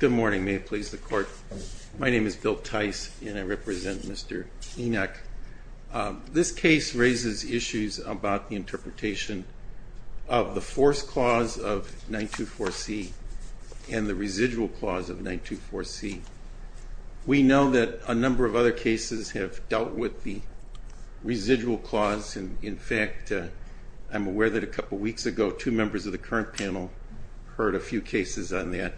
Good morning, may it please the court. My name is Bill Tice and I represent Mr. Enoch. This case raises issues about the interpretation of the force clause of 924C and the residual clause of 924C. We know that a number of other cases have dealt with the residual clause and in fact I'm aware that a couple weeks ago two members of the current panel heard a few cases on that.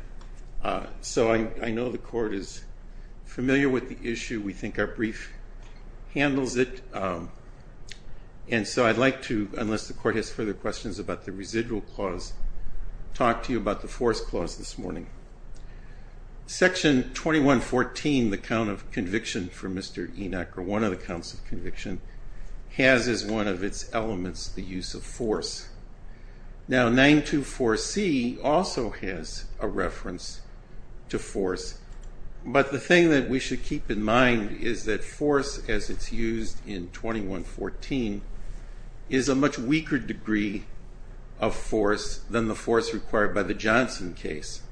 So I know the court is familiar with the issue, we think our brief handles it, and so I'd like to, unless the court has further questions about the residual clause, talk to you about the force clause this morning. Section 2114, the count of conviction for Mr. Enoch, or one of the counts of conviction, has as one of its elements the use of force. Now 924C also has a reference to force, but the thing that we should keep in mind is that force, as it's used in 2114, is a much weaker degree of force than the force required by the Johnson case.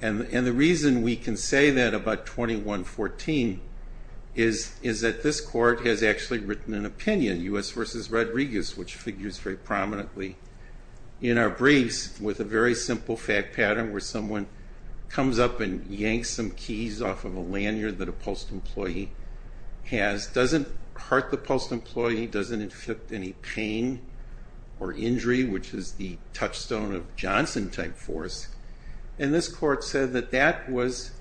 And the reason we can say that about 2114 is that this court has actually written an opinion, U.S. v. Rodriguez, which figures very prominently in our briefs with a very simple fact pattern where someone comes up and yanks some keys off of a lanyard that a post employee has, doesn't hurt the post employee, doesn't inflict any pain or injury, which is the touchstone of Johnson type force, and this court said that that was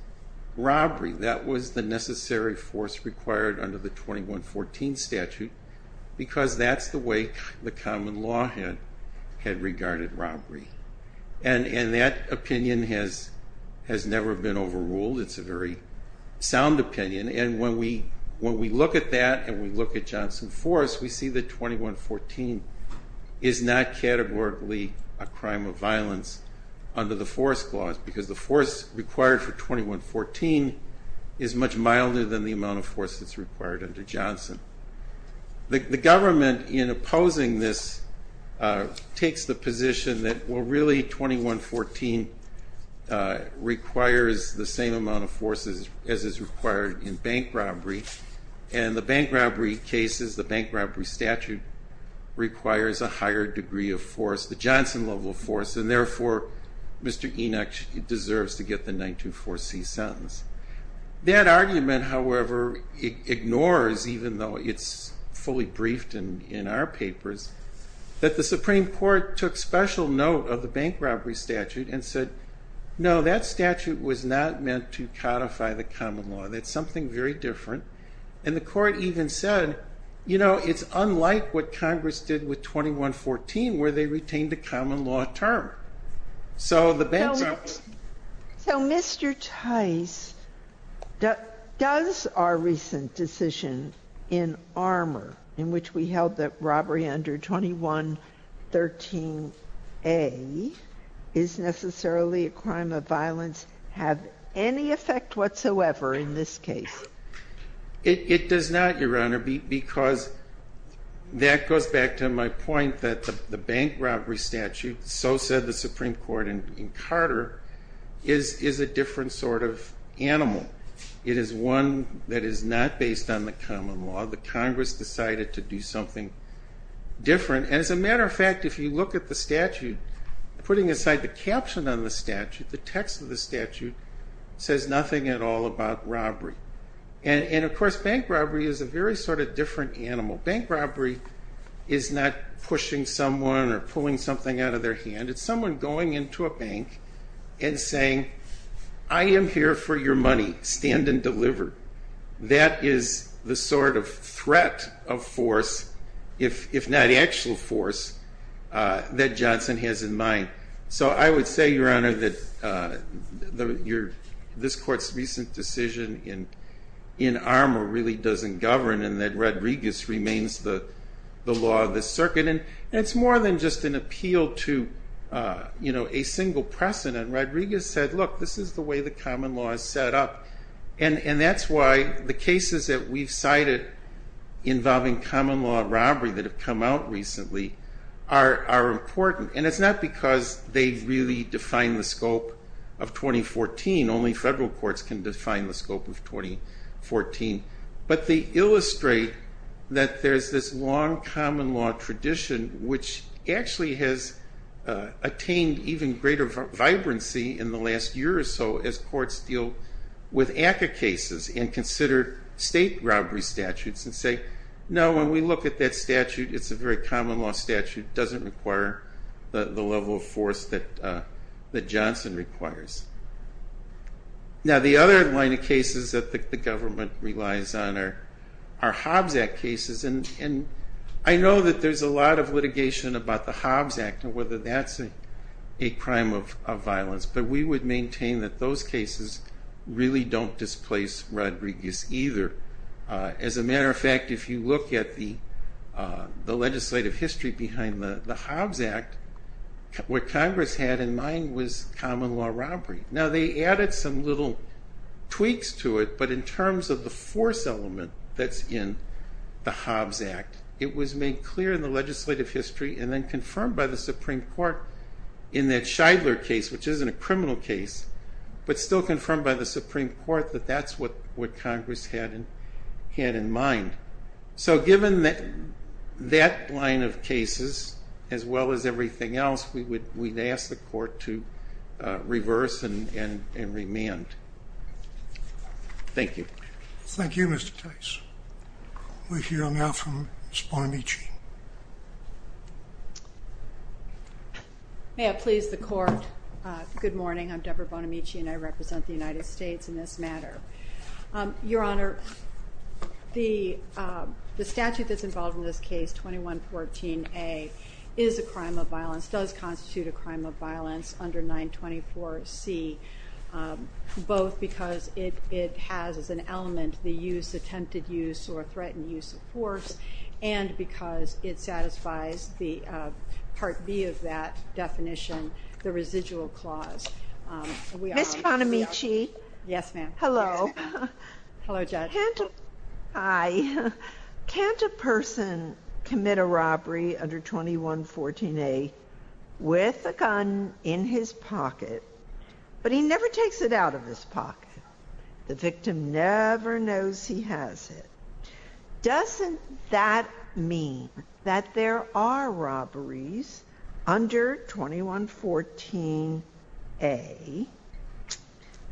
robbery, that was the necessary force required under the 2114 statute, because that's the way the common law had regarded robbery. And that opinion has never been overruled, it's a very sound opinion, and when we look at that and we look at Johnson force, we see that 2114 is not categorically a crime of violence under the force clause, because the force required for 2114 is much milder than the amount of force that's required under Johnson. The government, in opposing this, takes the position that well really 2114 requires the same amount of force as is required in bank robbery, and the bank robbery cases, the bank robbery statute requires a higher degree of force, the Johnson level of force, and therefore Mr. Enoch deserves to get the 924C sentence. That argument however ignores, even though it's fully briefed in our papers, that the Supreme Court took special note of the bank robbery statute and said no, that statute was not meant to codify the common law, that's something very different, and the court even said, you know, it's unlike what Congress did with 2114 where they retained the common law term. So the bank robbery statute is not a crime of violence under the 2113A statute. So Mr. Tice, does our recent decision in Armour, in which we held that robbery under 2113A is necessarily a crime of violence, have any effect whatsoever in this case? That goes back to my point that the bank robbery statute, so said the Supreme Court in Carter, is a different sort of animal. It is one that is not based on the common law. The Congress decided to do something different, and as a matter of fact, if you look at the statute, putting aside the caption on the statute, the text of the statute, says nothing at all about robbery. And of course bank robbery is a very sort of different animal. Bank robbery is not pushing someone or pulling something out of their hand, it's someone going into a bank and saying, I am here for your money, stand and deliver. That is the sort of threat of force, if not actual force, that Johnson has in mind. So I would say, Your Honor, that this court's recent decision in Rodriguez remains the law of the circuit. And it's more than just an appeal to a single precedent. Rodriguez said, look, this is the way the common law is set up. And that's why the cases that we've cited involving common law robbery that have come out recently are important. And it's not because they really define the scope of 2014. Only federal courts can define the scope of 2014. But they illustrate that there's this long common law tradition which actually has attained even greater vibrancy in the last year or so as courts deal with ACCA cases and consider state robbery statutes and say, no, when we look at that statute, it's a very common law statute. It doesn't require the level of force that Johnson requires. Now the other line of cases that the government relies on are Hobbs Act cases. And I know that there's a lot of litigation about the Hobbs Act and whether that's a crime of violence. But we would maintain that those cases really don't displace Rodriguez either. As a matter of fact, if you look at the legislative history behind the Hobbs Act, what Congress had in mind was common law robbery. Now they added some little tweaks to it. But in terms of the force element that's in the Hobbs Act, it was made clear in the legislative history and then confirmed by the Supreme Court in that Scheidler case, which isn't a criminal case, but still what Congress had in mind. So given that line of cases as well as everything else, we'd ask the court to reverse and remand. Thank you. Thank you, Mr. Tice. We'll hear now from Ms. Bonamici. May I please the court? Good morning. I'm Deborah Bonamici and I represent the Supreme Court. Your Honor, the statute that's involved in this case, 2114A, is a crime of violence, does constitute a crime of violence under 924C, both because it has as an element the use, attempted use, or threatened use of force, and because it satisfies the Part B of that definition, the residual clause. Ms. Bonamici? Yes, ma'am. Hello. Hello, Judge. Hi. Can't a person commit a robbery under 2114A with a gun in his pocket, but he never takes it out of his pocket? The victim never knows he has it. Doesn't that mean that there are robberies under 2114A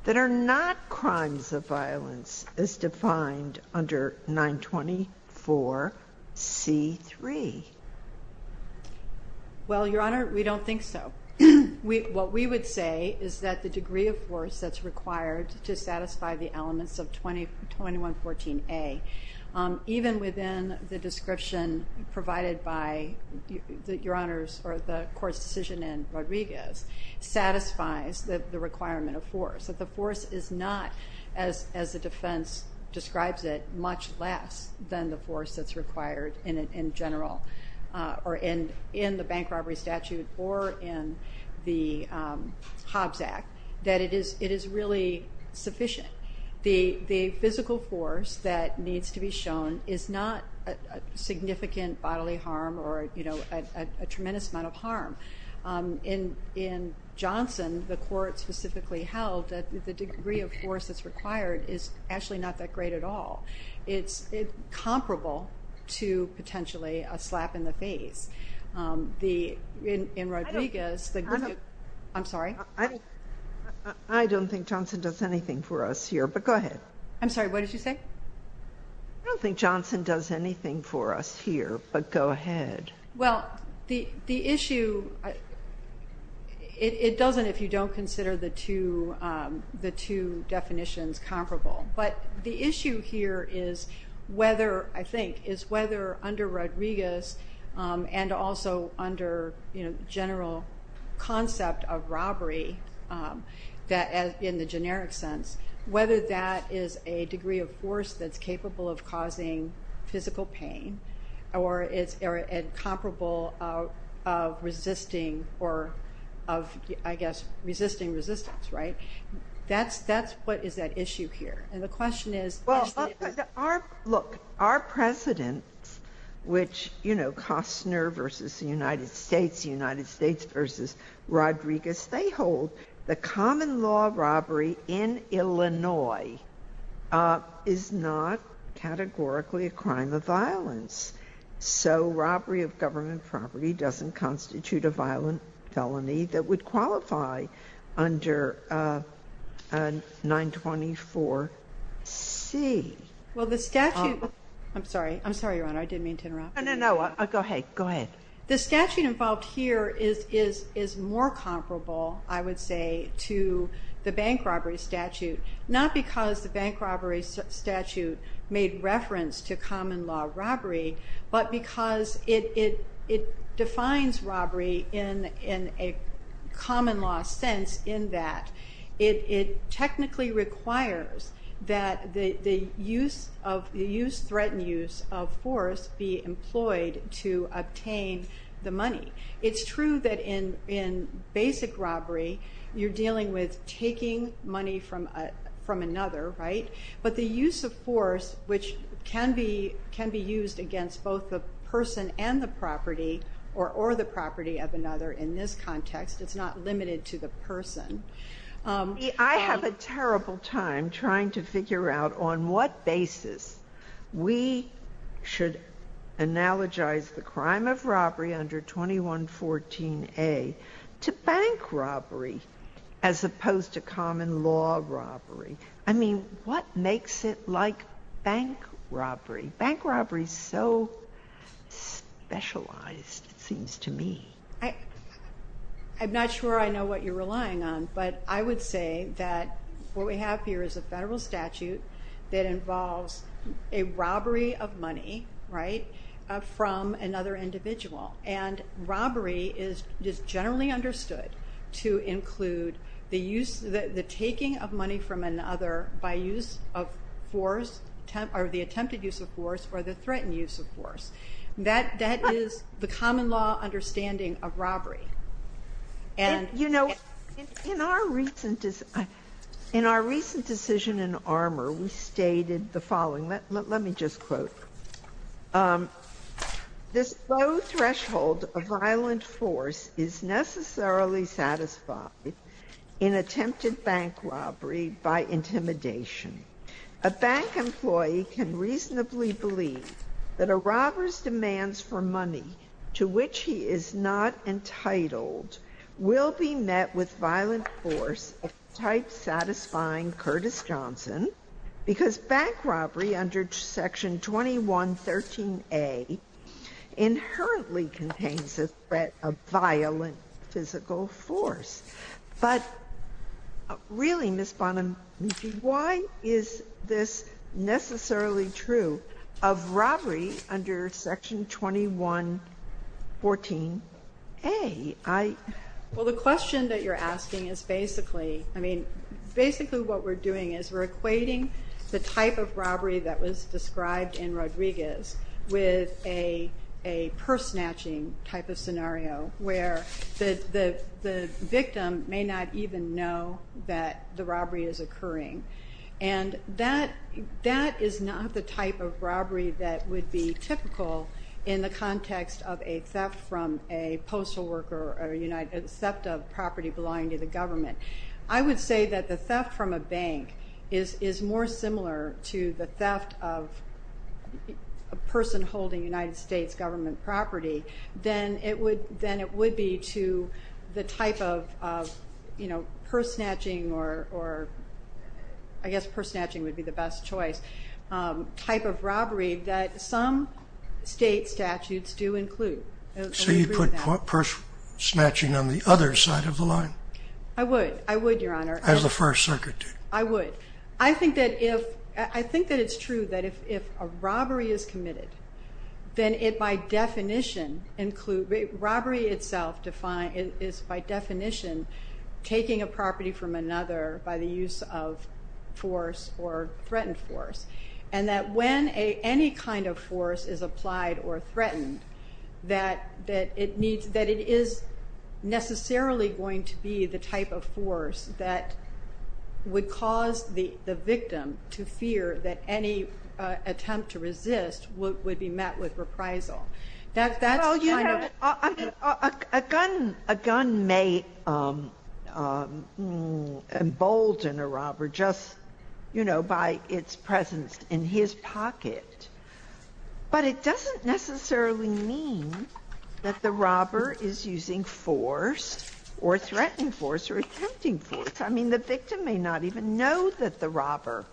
that are not crimes of violence as defined under 924C3? Well, Your Honor, we don't think so. What we would say is that the degree of force that's required to satisfy the description provided by the court's decision in Rodriguez satisfies the requirement of force, that the force is not, as the defense describes it, much less than the force that's required in general or in the bank robbery statute or in the Hobbs Act, that it is really sufficient. The physical force that is required is not significant bodily harm or a tremendous amount of harm. In Johnson, the court specifically held that the degree of force that's required is actually not that great at all. It's comparable to potentially a slap in the face. In Rodriguez, the... I'm sorry? I don't think Johnson does anything for us here, but go ahead. I'm sorry, what did you say? I don't think Johnson does anything for us here, but go ahead. Well, the issue... It doesn't if you don't consider the two definitions comparable, but the issue here is whether, I think, is whether under Rodriguez and also under the general concept of robbery in the generic sense, whether that is a degree of force that's capable of causing physical pain or is comparable of resisting or of, I guess, resisting resistance, right? That's what is at issue here, and the question is... Well, look, our precedents, which Costner versus the United States, the United States versus Rodriguez, they hold the common law robbery in Illinois is not categorically a crime of violence. So robbery of government property doesn't constitute a violent felony that would qualify under 924C. Well, the statute... I'm sorry. I'm sorry, Your Honor. I didn't mean to interrupt. No, no, no. Go ahead. Go ahead. The statute involved here is more comparable, I would say, to the bank robbery statute, not because the bank robbery statute made reference to common law robbery, but because it defines robbery in a common law sense in that it technically requires that the use of... to obtain the money. It's true that in basic robbery you're dealing with taking money from another, right? But the use of force, which can be used against both the person and the property or the property of another in this context, it's not limited to the person. I have a terrible time trying to figure out on what basis we should analogize the crime of robbery under 2114A to bank robbery as opposed to common law robbery. I mean, what makes it like bank robbery? Bank robbery is so specialized, it seems to me. I'm not sure I know what you're relying on, but I would say that what we have here is a federal statute that involves a robbery of money from another individual. And robbery is generally understood to include the taking of money from another by use of force or the attempted use of force or the threatened use of force. That is the common law understanding of robbery. You know, in our recent decision in Armour, we stated the following. Let me just quote. This low threshold of violent force is necessarily satisfied in attempted bank robbery by intimidation. A bank employee can reasonably believe that a robber's demands for money to which he is not entitled will be met with violent force of the type satisfying Curtis Johnson because bank robbery under Section 2113A inherently contains a threat of violent physical force. But really, Ms. Bonamici, why is this necessarily true of robbery under Section 2114A? Well, the question that you're asking is basically, I mean, basically what we're doing is we're equating the type of robbery that was described in Rodriguez with a purse-snatching type of scenario where the victim may not even know that the robbery is occurring. And that is not the type of robbery that would be typical in the context of a theft from a postal worker or a theft of property belonging to the government. I would say that the theft from a bank is more similar to the theft of a person holding United States government property than it would be to the type of purse-snatching or I guess purse-snatching would be the best choice, type of robbery that some state statutes do include. So you'd put purse-snatching on the other side of the line? I would, I would, Your Honor. As the First Circuit did. I would. I think that it's true that if a robbery is committed, then it by definition includes, robbery itself is by definition taking a property from another by the use of force or threatened force. And that when any kind of force is applied or threatened, that it is necessarily going to be the type of force that would cause the victim to fear that any attempt to resist would be met with reprisal. A gun may embolden a robber just, you know, by its presence in his pocket. But it doesn't necessarily mean that the robber is using force or threatened force or attempting force. I mean, the victim may not even know that the robber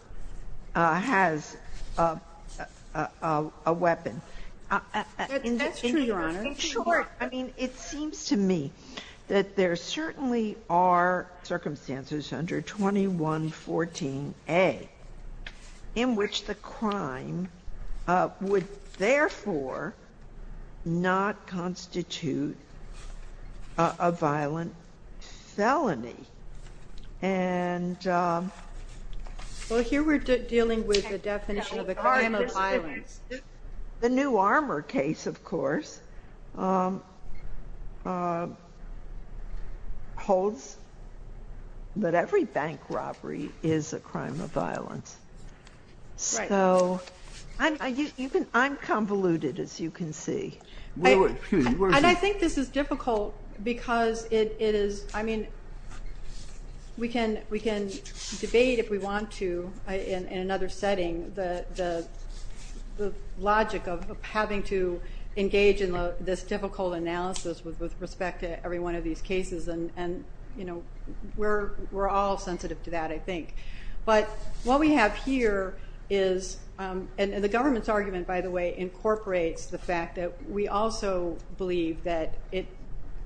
has a weapon. That's true, Your Honor. In short, I mean, it seems to me that there certainly are circumstances under 2114A in which the crime would therefore not constitute a violent felony. Well, here we're dealing with the definition of a crime of violence. The New Armor case, of course, holds that every bank robbery is a crime of violence. So I'm convoluted, as you can see. And I think this is difficult because it is, I mean, we can debate, if we want to, in another setting, the logic of having to engage in this difficult analysis with respect to every one of these cases. And, you know, we're all sensitive to that, I think. But what we have here is the government's argument, by the way, incorporates the fact that we also believe that,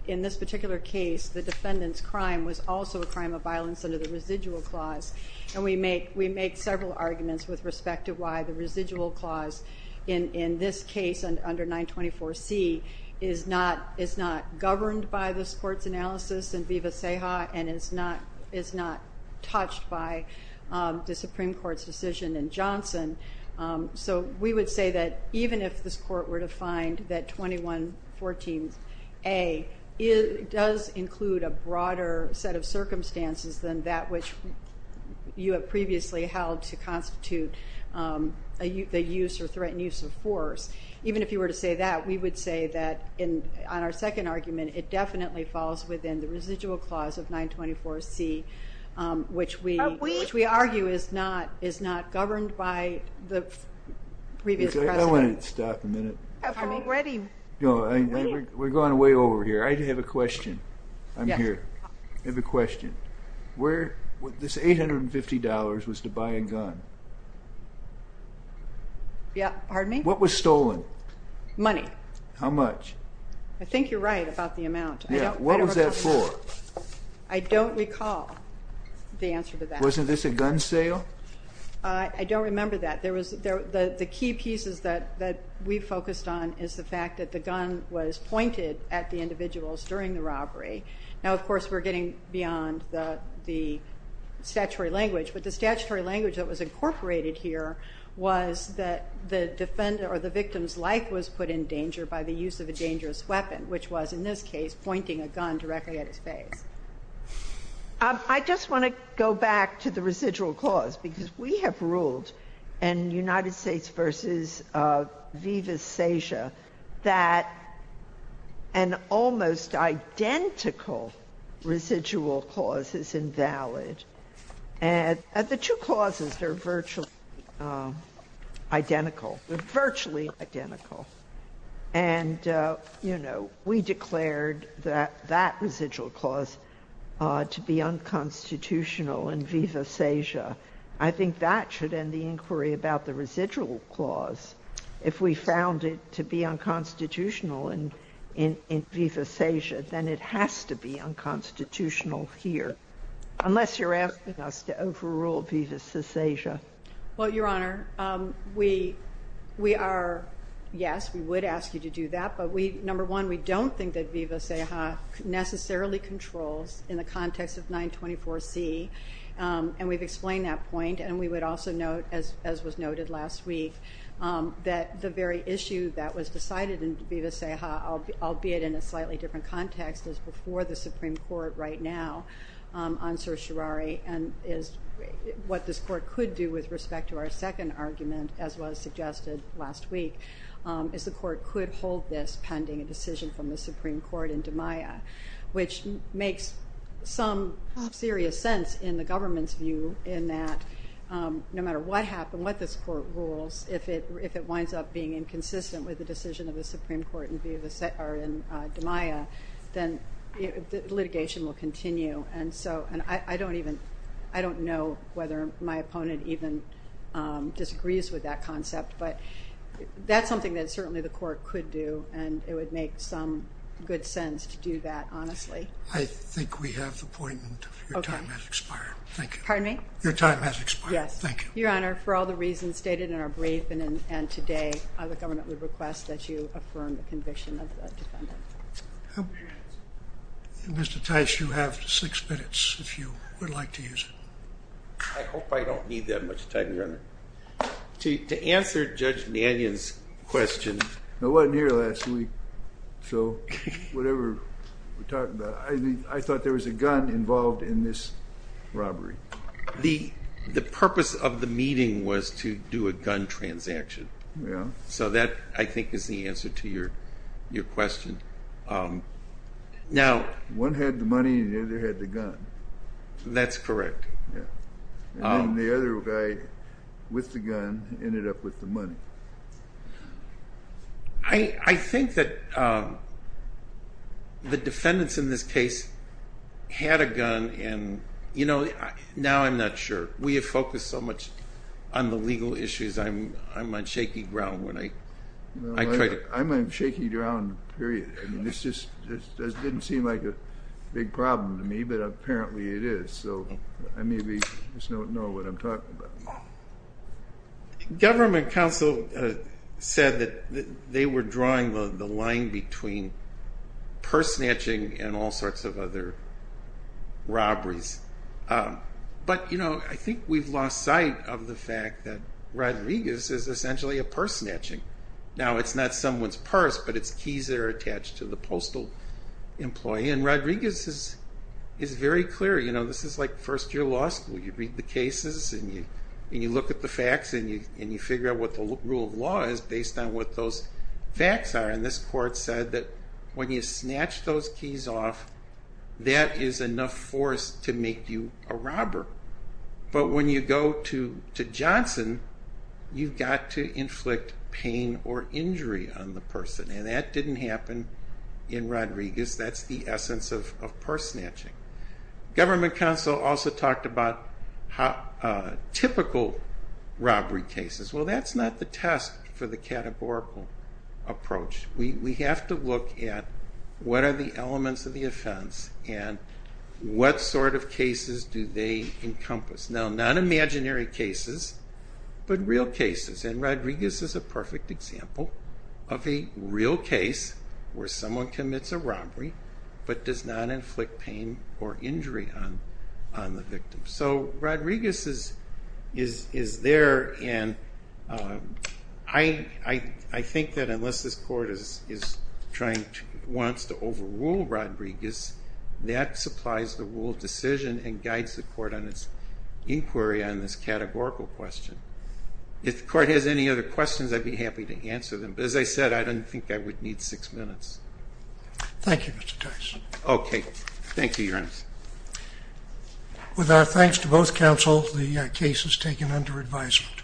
in this particular case, the defendant's crime was also a crime of violence under the residual clause. And we make several arguments with respect to why the residual clause, in this case under 924C, is not governed by this court's analysis in Viva Ceja and is not touched by the Supreme Court's decision in Johnson. So we would say that even if this court were to find that 2114A does include a broader set of circumstances than that which you have previously held to constitute the use or threatened use of force, even if you were to say that, we would say that, on our second argument, it definitely falls within the residual clause of 924C, which we argue is not governed by the previous precedent. I want to stop a minute. Pardon me? We're going way over here. I have a question. I'm here. I have a question. This $850 was to buy a gun. Pardon me? What was stolen? Money. How much? I think you're right about the amount. What was that for? I don't recall the answer to that. Wasn't this a gun sale? I don't remember that. The key pieces that we focused on is the fact that the gun was pointed at the individuals during the robbery. Now, of course, we're getting beyond the statutory language, but the statutory language that was incorporated here was that the victim's life was put in danger by the use of a dangerous weapon, which was, in this case, pointing a gun directly at his face. I just want to go back to the residual clause, because we have ruled in United States v. Viva Sasia that an almost identical residual clause is invalid. And the two clauses are virtually identical. They're virtually identical. And, you know, we declared that that residual clause to be unconstitutional in Viva Sasia. I think that should end the inquiry about the residual clause. If we found it to be unconstitutional in Viva Sasia, then it has to be unconstitutional here, unless you're asking us to overrule Viva Sasia. Well, Your Honor, we are, yes, we would ask you to do that. But, number one, we don't think that Viva Sasia necessarily controls in the context of 924C. And we've explained that point. And we would also note, as was noted last week, that the very issue that was decided in Viva Sasia, albeit in a slightly different context, is before the Supreme Court right now on certiorari and is what this court could do with respect to our second argument, as was suggested last week, is the court could hold this pending a decision from the Supreme Court in DiMaia, which makes some serious sense in the government's view in that no matter what happened, what this court rules, if it winds up being inconsistent with the decision of the Supreme Court in DiMaia, then litigation will continue. And I don't know whether my opponent even disagrees with that concept. But that's something that certainly the court could do. And it would make some good sense to do that, honestly. I think we have the point. Your time has expired. Thank you. Pardon me? Your time has expired. Yes. Thank you. Your Honor, for all the reasons stated in our brief and today, the government would request that you affirm the conviction of the defendant. Mr. Tice, you have six minutes, if you would like to use it. I hope I don't need that much time, Your Honor. To answer Judge Mannion's question. I wasn't here last week. So whatever we're talking about, I thought there was a gun involved in this robbery. The purpose of the meeting was to do a gun transaction. So that, I think, is the answer to your question. One had the money and the other had the gun. That's correct. And the other guy with the gun ended up with the money. I think that the defendants in this case had a gun. Now I'm not sure. We have focused so much on the legal issues. I'm on shaky ground when I try to. I'm on shaky ground, period. This didn't seem like a big problem to me, but apparently it is. So I maybe just don't know what I'm talking about. Government counsel said that they were drawing the line between purse snatching and all sorts of other robberies. But I think we've lost sight of the fact that Rodriguez is essentially a purse snatching. Now it's not someone's purse, but it's keys that are attached to the postal employee. And Rodriguez is very clear. This is like first-year law school. You read the cases and you look at the facts and you figure out what the rule of law is based on what those facts are. And this court said that when you snatch those keys off, that is enough force to make you a robber. But when you go to Johnson, you've got to inflict pain or injury on the person. And that didn't happen in Rodriguez. That's the essence of purse snatching. Government counsel also talked about typical robbery cases. Well, that's not the test for the categorical approach. We have to look at what are the elements of the offense and what sort of cases do they encompass. Now, not imaginary cases, but real cases. And Rodriguez is a perfect example of a real case where someone commits a robbery but does not inflict pain or injury on the victim. So Rodriguez is there. And I think that unless this court wants to overrule Rodriguez, that supplies the rule of decision and guides the court on its inquiry on this categorical question. If the court has any other questions, I'd be happy to answer them. But as I said, I don't think I would need six minutes. Okay. Thank you, Your Honor. With our thanks to both counsel, the case is taken under advisement.